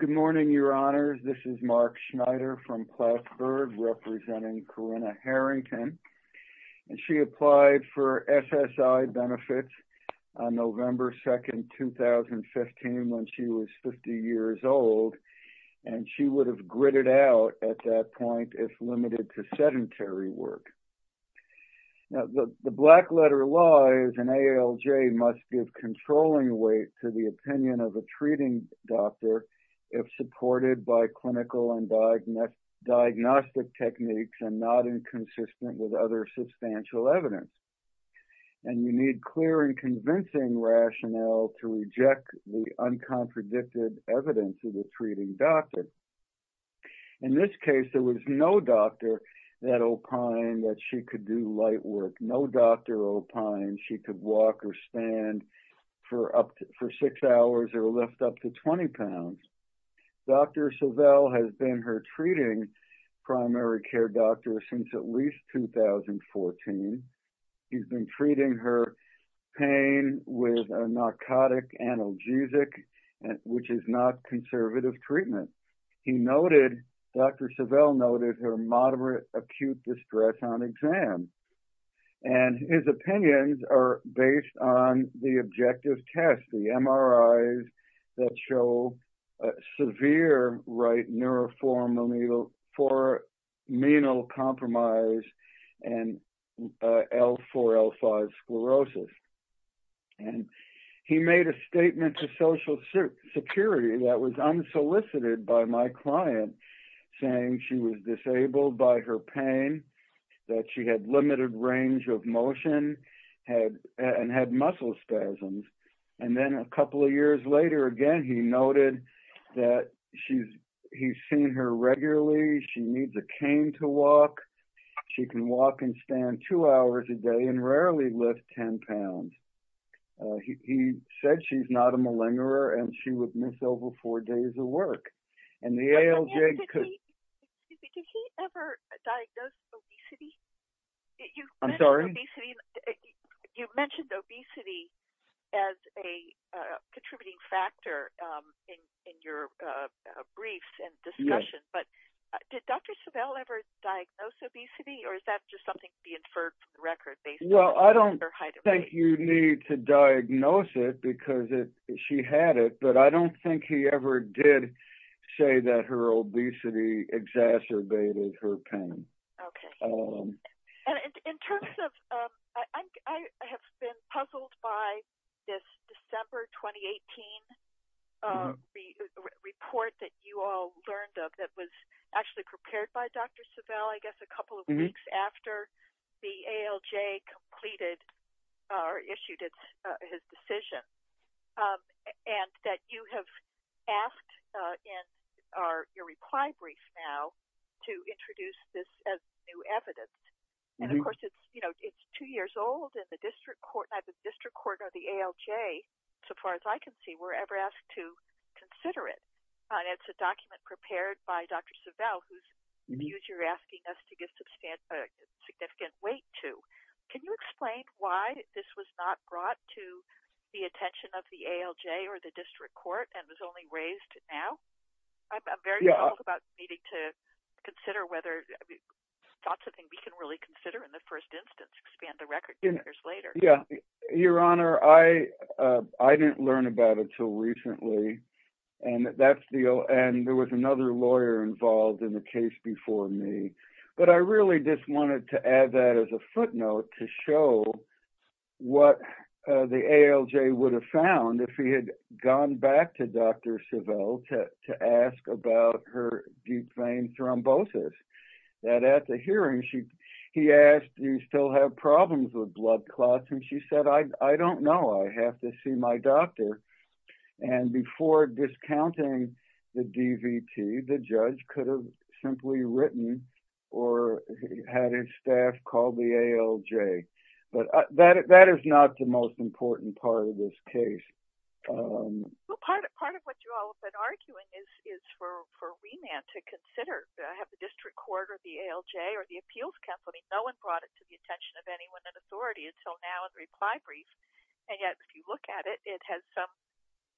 Good morning, Your Honors. This is Mark Schneider from Plattsburgh, representing Corinna Harrington. She applied for SSI benefits on November 2, 2015, when she was 50 years old, and she would have gritted out at that point if limited to sedentary work. Now, the black letter law is an ALJ must give controlling weight to the opinion of a treating doctor if supported by clinical and diagnostic techniques and not inconsistent with other substantial evidence. And you need clear and convincing rationale to reject the uncontradicted evidence of the treating doctor. In this case, there was no doctor at Opine that she could do light work, no doctor at Opine she could walk or stand for six hours or lift up to 20 pounds. Dr. Savelle has been her treating primary doctor since at least 2014. He's been treating her pain with a narcotic analgesic, which is not conservative treatment. Dr. Savelle noted her moderate acute distress on exam, and his opinions are based on the objective test, the MRIs that show severe right neuroformal for menal compromise and L4, L5 sclerosis. And he made a statement to Social Security that was unsolicited by my client saying she was disabled by her pain, that she had limited range of motion and had muscle spasms. And then a couple of years later, again, he noted that he's seen her regularly. She needs a cane to walk. She can walk and stand two hours a day and rarely lift 10 pounds. He said she's not a Did he ever diagnose obesity? I'm sorry. You mentioned obesity as a contributing factor in your brief and discussion. But did Dr. Savelle ever diagnose obesity? Or is that just something the inferred record based? Well, I don't think you need to diagnose it because she had it. But I don't think he ever did say that her obesity exacerbated her pain. Okay. And in terms of I have been puzzled by this December 2018 report that you all learned of that was actually prepared by Dr. Savelle, I guess a couple of weeks the ALJ completed or issued his decision. And that you have asked in your reply brief now to introduce this as new evidence. And of course, it's, you know, it's two years old and the district court, the district court or the ALJ, so far as I can see, were ever asked to consider it. It's a document prepared by Dr. Savelle, whose views you're asking us to give significant weight to. Can you explain why this was not brought to the attention of the ALJ or the district court and was only raised now? I'm very about needing to consider whether thoughts of things we can really consider in the first instance, expand the record years later. Your Honor, I didn't learn about it until recently. And there was another lawyer involved in the case before me. But I really just wanted to add that as a footnote to show what the ALJ would have found if he had gone back to Dr. Savelle to ask about her deep vein thrombosis. That at the hearing, he asked, do you still have problems with blood clots? And she said, I don't know. I have to see my doctor. And before discounting the DVT, the judge could have simply written or had his staff call the ALJ. But that is not the most important part of this case. Well, part of what you all have been arguing is for remand to consider. Have the district court or the ALJ or the appeals company, no one brought it to the attention of anyone in authority until now in the reply brief. And yet, if you look at it, it has some,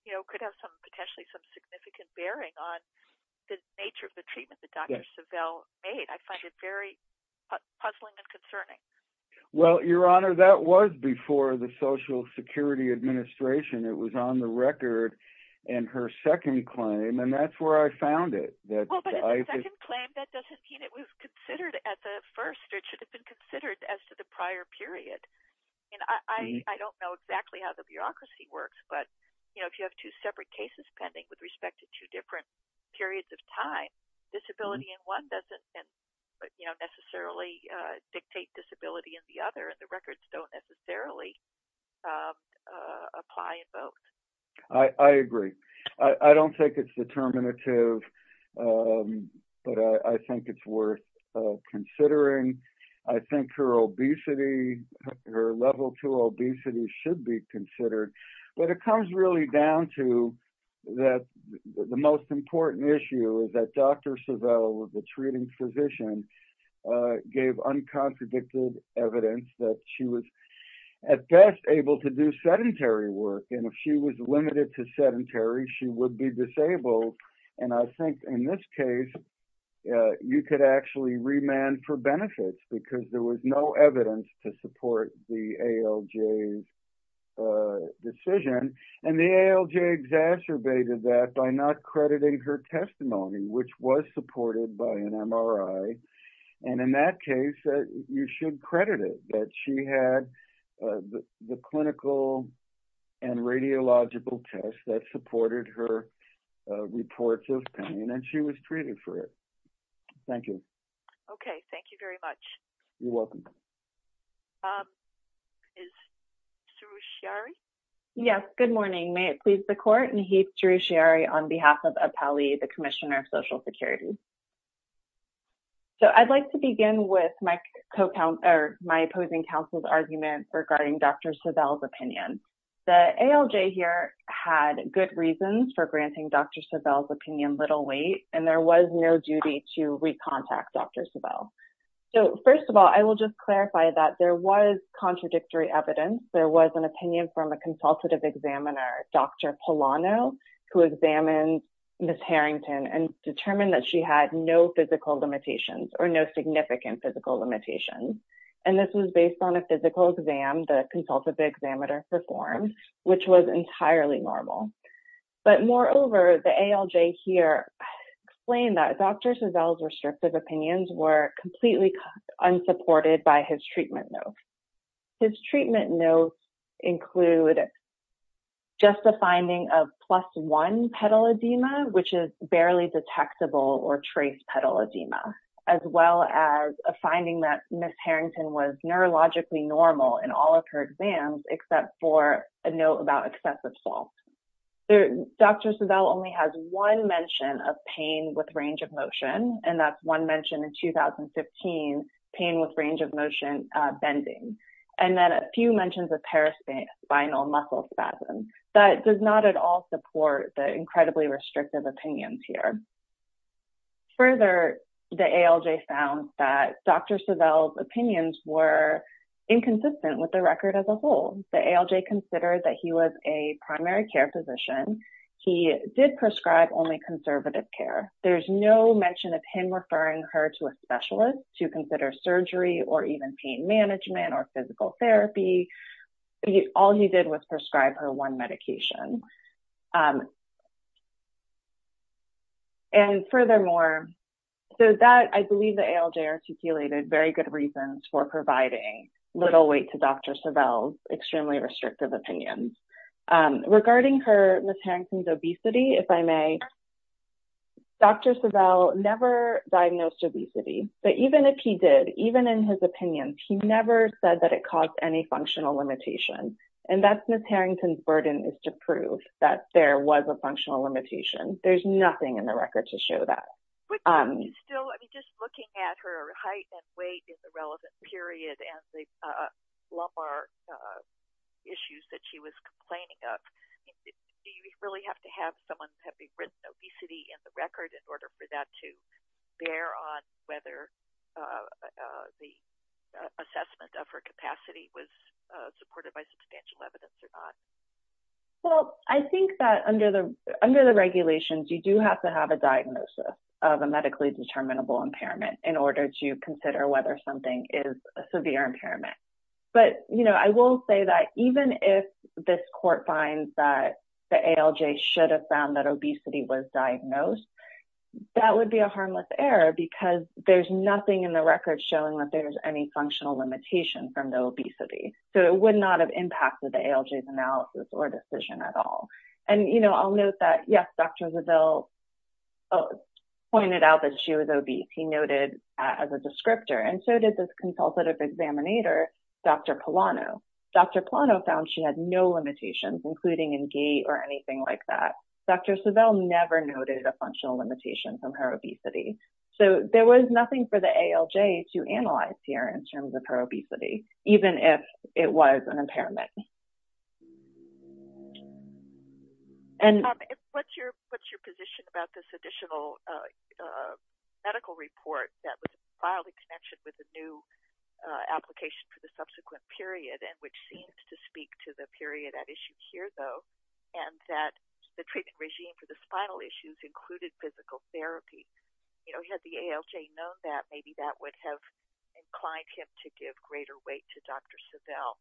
you know, could have some potentially some significant bearing on the nature of the treatment that Dr. Savelle made. I find it very puzzling and concerning. Well, Your Honor, that was before the Social Security Administration on the record and her second claim. And that's where I found it. Well, but in the second claim, that doesn't mean it was considered at the first. It should have been considered as to the prior period. And I don't know exactly how the bureaucracy works. But, you know, if you have two separate cases pending with respect to two different periods of time, disability in one doesn't necessarily dictate disability in the other. And the records don't necessarily apply in both. I agree. I don't think it's determinative. But I think it's worth considering. I think her obesity, her level two obesity should be considered. But it comes really down to that the most important issue is that Dr. Savelle, the treating physician, gave uncontradicted evidence that she was at best able to do sedentary work. And if she was limited to sedentary, she would be disabled. And I think in this case, you could actually remand for benefits because there was no evidence to support the ALJ's by not crediting her testimony, which was supported by an MRI. And in that case, you should credit it that she had the clinical and radiological tests that supported her reports of pain and she was treated for it. Thank you. You're welcome. Bob, is he here? Yes. Good morning. May it please the court, Nahid Serochiari on behalf of Apelli, the Commissioner of Social Security. So, I'd like to begin with my opposing counsel's argument regarding Dr. Savelle's opinion. The ALJ here had good reasons for granting Dr. Savelle's opinion little weight, and there was no duty to clarify that there was contradictory evidence. There was an opinion from a consultative examiner, Dr. Polano, who examined Ms. Harrington and determined that she had no physical limitations or no significant physical limitations. And this was based on a physical exam the consultative examiner performed, which was entirely normal. But moreover, the ALJ here explained that Dr. Savelle's treatment notes include just a finding of plus one pedal edema, which is barely detectable or trace pedal edema, as well as a finding that Ms. Harrington was neurologically normal in all of her exams, except for a note about excessive salt. Dr. Savelle only has one mention of pain with range of motion, and that's one mention in 2015, pain with range of motion bending. And then a few mentions of paraspinal muscle spasms. That does not at all support the incredibly restrictive opinions here. Further, the ALJ found that Dr. Savelle's opinions were inconsistent with the record as a whole. The ALJ considered that he was a primary care physician. He did prescribe only conservative care. There's no mention of him referring her to a specialist to consider surgery or even pain management or physical therapy. All he did was prescribe her one medication. And furthermore, so that I believe the ALJ articulated very good reasons for providing little weight to Dr. Savelle's extremely restrictive opinions. Regarding her, Ms. Harrington's obesity, if I may, Dr. Savelle never diagnosed obesity. But even if he did, even in his opinions, he never said that it caused any functional limitation. And that's Ms. Harrington's burden is to prove that there was a functional limitation. There's nothing in the record to show that. Just looking at her height and weight in the relevant period and the lumbar issues that she was complaining of, do you really have to have someone have written obesity in the record in order for that to bear on whether the assessment of her capacity was supported by substantial evidence or not? Well, I think that under the regulations, you do have to have a diagnosis of a medically determinable impairment in order to consider whether something is a severe impairment. But I will say that even if this court finds that the ALJ should have found that obesity was diagnosed, that would be a harmless error because there's nothing in the record showing that there's any functional limitation from the obesity. So it would not have impacted the ALJ's analysis or decision at all. And I'll note that, yes, Dr. Savelle pointed out that she was obese, he noted as a descriptor, and so did this consultative examinator, Dr. Polano. Dr. Polano found she had no limitations, including in gait or anything like that. Dr. Savelle never noted a functional limitation from her obesity. So there was nothing for the ALJ to analyze here in terms of her obesity, even if it was an impairment. What's your position about this additional medical report that was filed in connection with the new application for the subsequent period and which seems to speak to the period at issue here, though, and that the treatment regime for the spinal issues included physical therapy? Had the ALJ known that, maybe that would have inclined him to give greater weight to Dr. Savelle.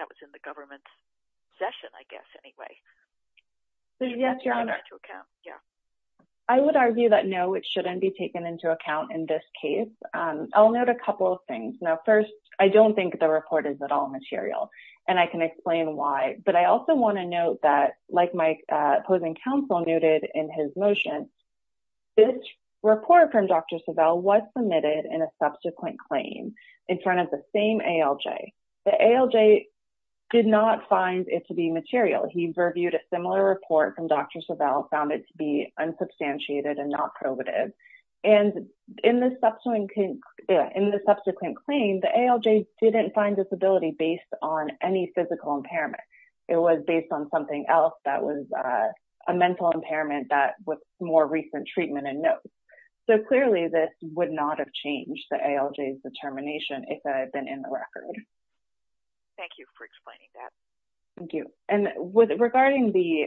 That was in the government's session, I guess, anyway. Yes, Your Honor. I would argue that, no, it shouldn't be taken into account in this case. I'll note a couple of things. Now, first, I don't think the report is at all material, and I can explain why. But I also want to note that, like my opposing counsel noted in his motion, this report from Dr. Savelle was submitted in a subsequent claim in front of the same ALJ. The ALJ did not find it to be material. He reviewed a similar report from Dr. Savelle, found it to be unsubstantiated and not probative. And in the subsequent claim, the ALJ didn't find disability based on any physical impairment. It was based on something else that was a mental impairment that was more recent treatment and notes. So, clearly, this would not have changed the ALJ's determination if it had been in the record. Thank you for explaining that. Thank you. And regarding the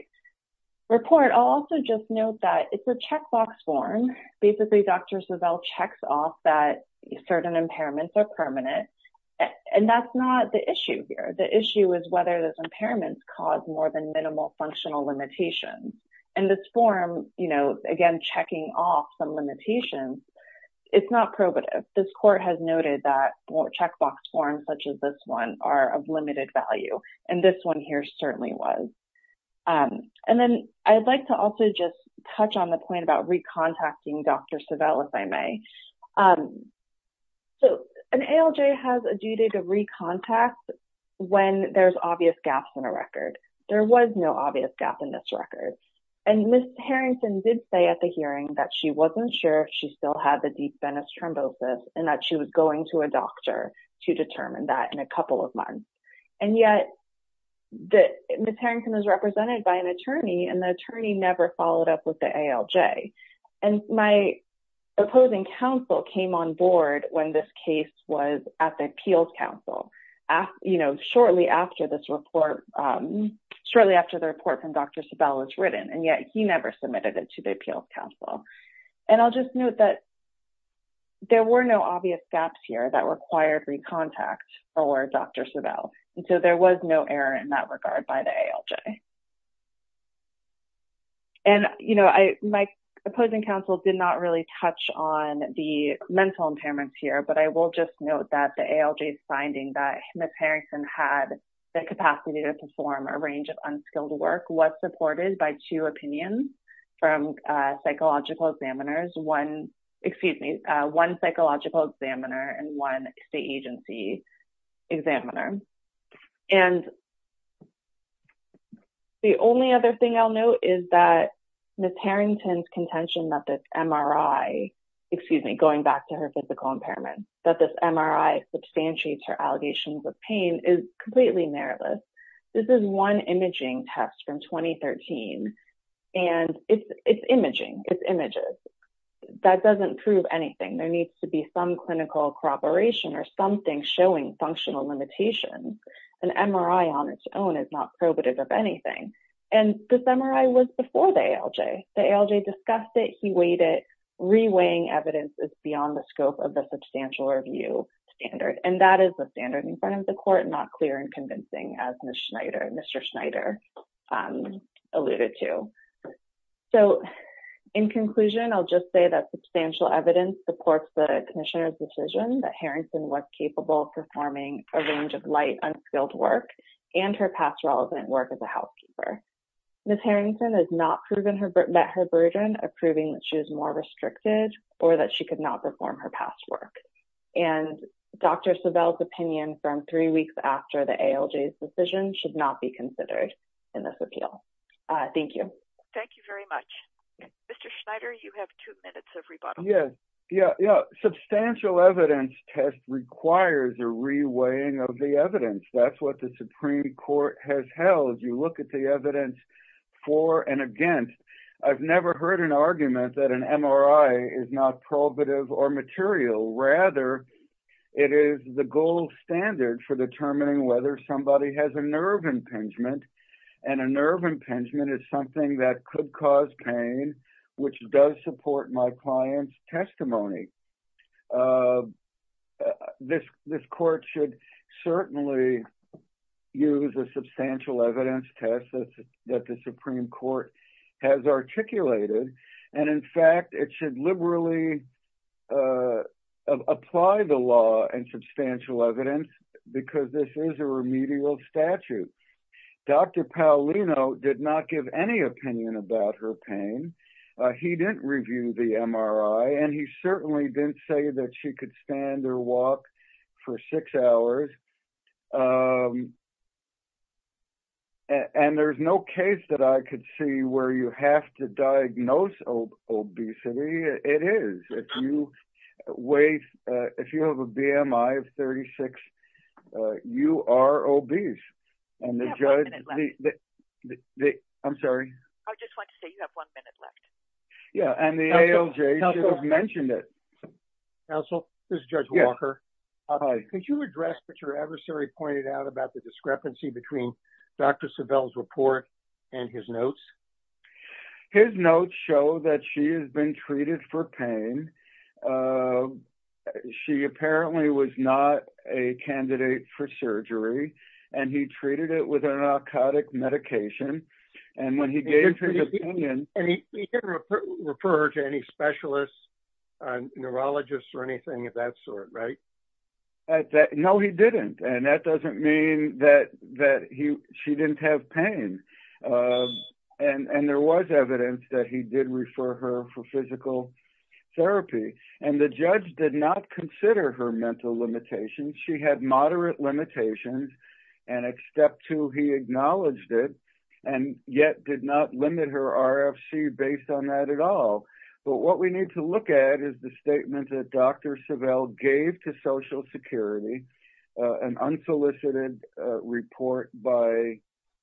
report, I'll also just note that it's a checkbox form. Basically, Dr. Savelle checks off that certain impairments are permanent, and that's not the issue here. The issue is whether those impairments cause more than minimal functional limitations. And this form, again, checking off some limitations, it's not probative. This court has noted that checkbox forms such as this one are of limited value, and this one here certainly was. And then I'd like to also just touch on the point about recontacting Dr. Savelle, if I may. So, an ALJ has a duty to recontact when there's obvious gaps in a record. There was no obvious gap in this record. And Ms. Harrington did say at the hearing that she wasn't sure if she still had the deep venous thrombosis and that she was going to a doctor to determine that in a couple of months. And yet, Ms. Harrington is represented by an attorney, and the attorney never followed up with the ALJ. And my opposing counsel came on board when this case was at the appeals council, you know, shortly after this report, shortly after the report from Dr. Savelle was written. And yet, he never submitted it to the appeals council. And I'll just note that there were no obvious gaps here that required recontact for Dr. Savelle. And so, there was no error in that My opposing counsel did not really touch on the mental impairments here, but I will just note that the ALJ's finding that Ms. Harrington had the capacity to perform a range of unskilled work was supported by two opinions from psychological examiners, one, excuse me, one psychological examiner, and one state agency examiner. And the only other thing I'll note is that Ms. Harrington's contention that this MRI, excuse me, going back to her physical impairment, that this MRI substantiates her allegations of pain is completely mirrorless. This is one imaging test from 2013. And it's imaging, it's images. That doesn't prove anything. There needs to be some clinical corroboration or something showing functional limitations. An MRI on its own is not probative of anything. And this MRI was before the ALJ. The ALJ discussed it, he weighed it, reweighing evidence is beyond the scope of the substantial review standard. And that is the as Ms. Schneider, Mr. Schneider alluded to. So, in conclusion, I'll just say that substantial evidence supports the commissioner's decision that Harrington was capable of performing a range of light unskilled work and her past relevant work as a housekeeper. Ms. Harrington has not met her burden of proving that she was more restricted or that she could not perform her ALJ's decision should not be considered in this appeal. Thank you. Thank you very much. Mr. Schneider, you have two minutes of rebuttal. Yes. Yeah. Substantial evidence test requires a reweighing of the evidence. That's what the Supreme Court has held. You look at the evidence for and against. I've never heard an argument that an MRI is not probative or material. Rather, it is the gold standard for determining whether somebody has a nerve impingement. And a nerve impingement is something that could cause pain, which does support my client's testimony. This court should certainly use a substantial evidence test that the Supreme Court has articulated. And in fact, it should liberally apply the law and substantial evidence because this is a remedial statute. Dr. Paolino did not give any opinion about her pain. He didn't review the MRI and he certainly didn't say that she could stand or walk for six hours. And there's no case that I could see where you have to diagnose obesity. It is. If you have a BMI of 36, you are obese. I'm sorry. I just want to say you have one minute left. Yeah. And the ALJ should have mentioned it. Counsel, this is Judge Walker. Could you address what your adversary pointed out about the discrepancy between Dr. Sebel's report and his notes? His notes show that she has been treated for pain. She apparently was not a candidate for surgery and he treated it with a narcotic medication. And when he gave his opinion, he didn't refer her to any specialists, neurologists or anything of sort, right? No, he didn't. And that doesn't mean that she didn't have pain. And there was evidence that he did refer her for physical therapy. And the judge did not consider her mental limitations. She had moderate limitations. And at step two, he acknowledged it and yet did not limit her RFC based on that at all. But what we need to look at is the statement that Dr. Sebel gave to Social Security, an unsolicited report by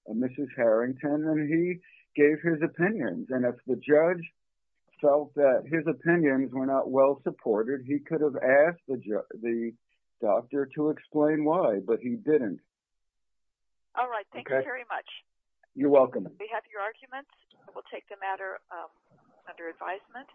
Mrs. Harrington, and he gave his opinions. And if the judge felt that his opinions were not well supported, he could have asked the doctor to explain why, but he didn't. All right. Thank you very much. You're welcome. We have your arguments. We'll take the matter under advisement.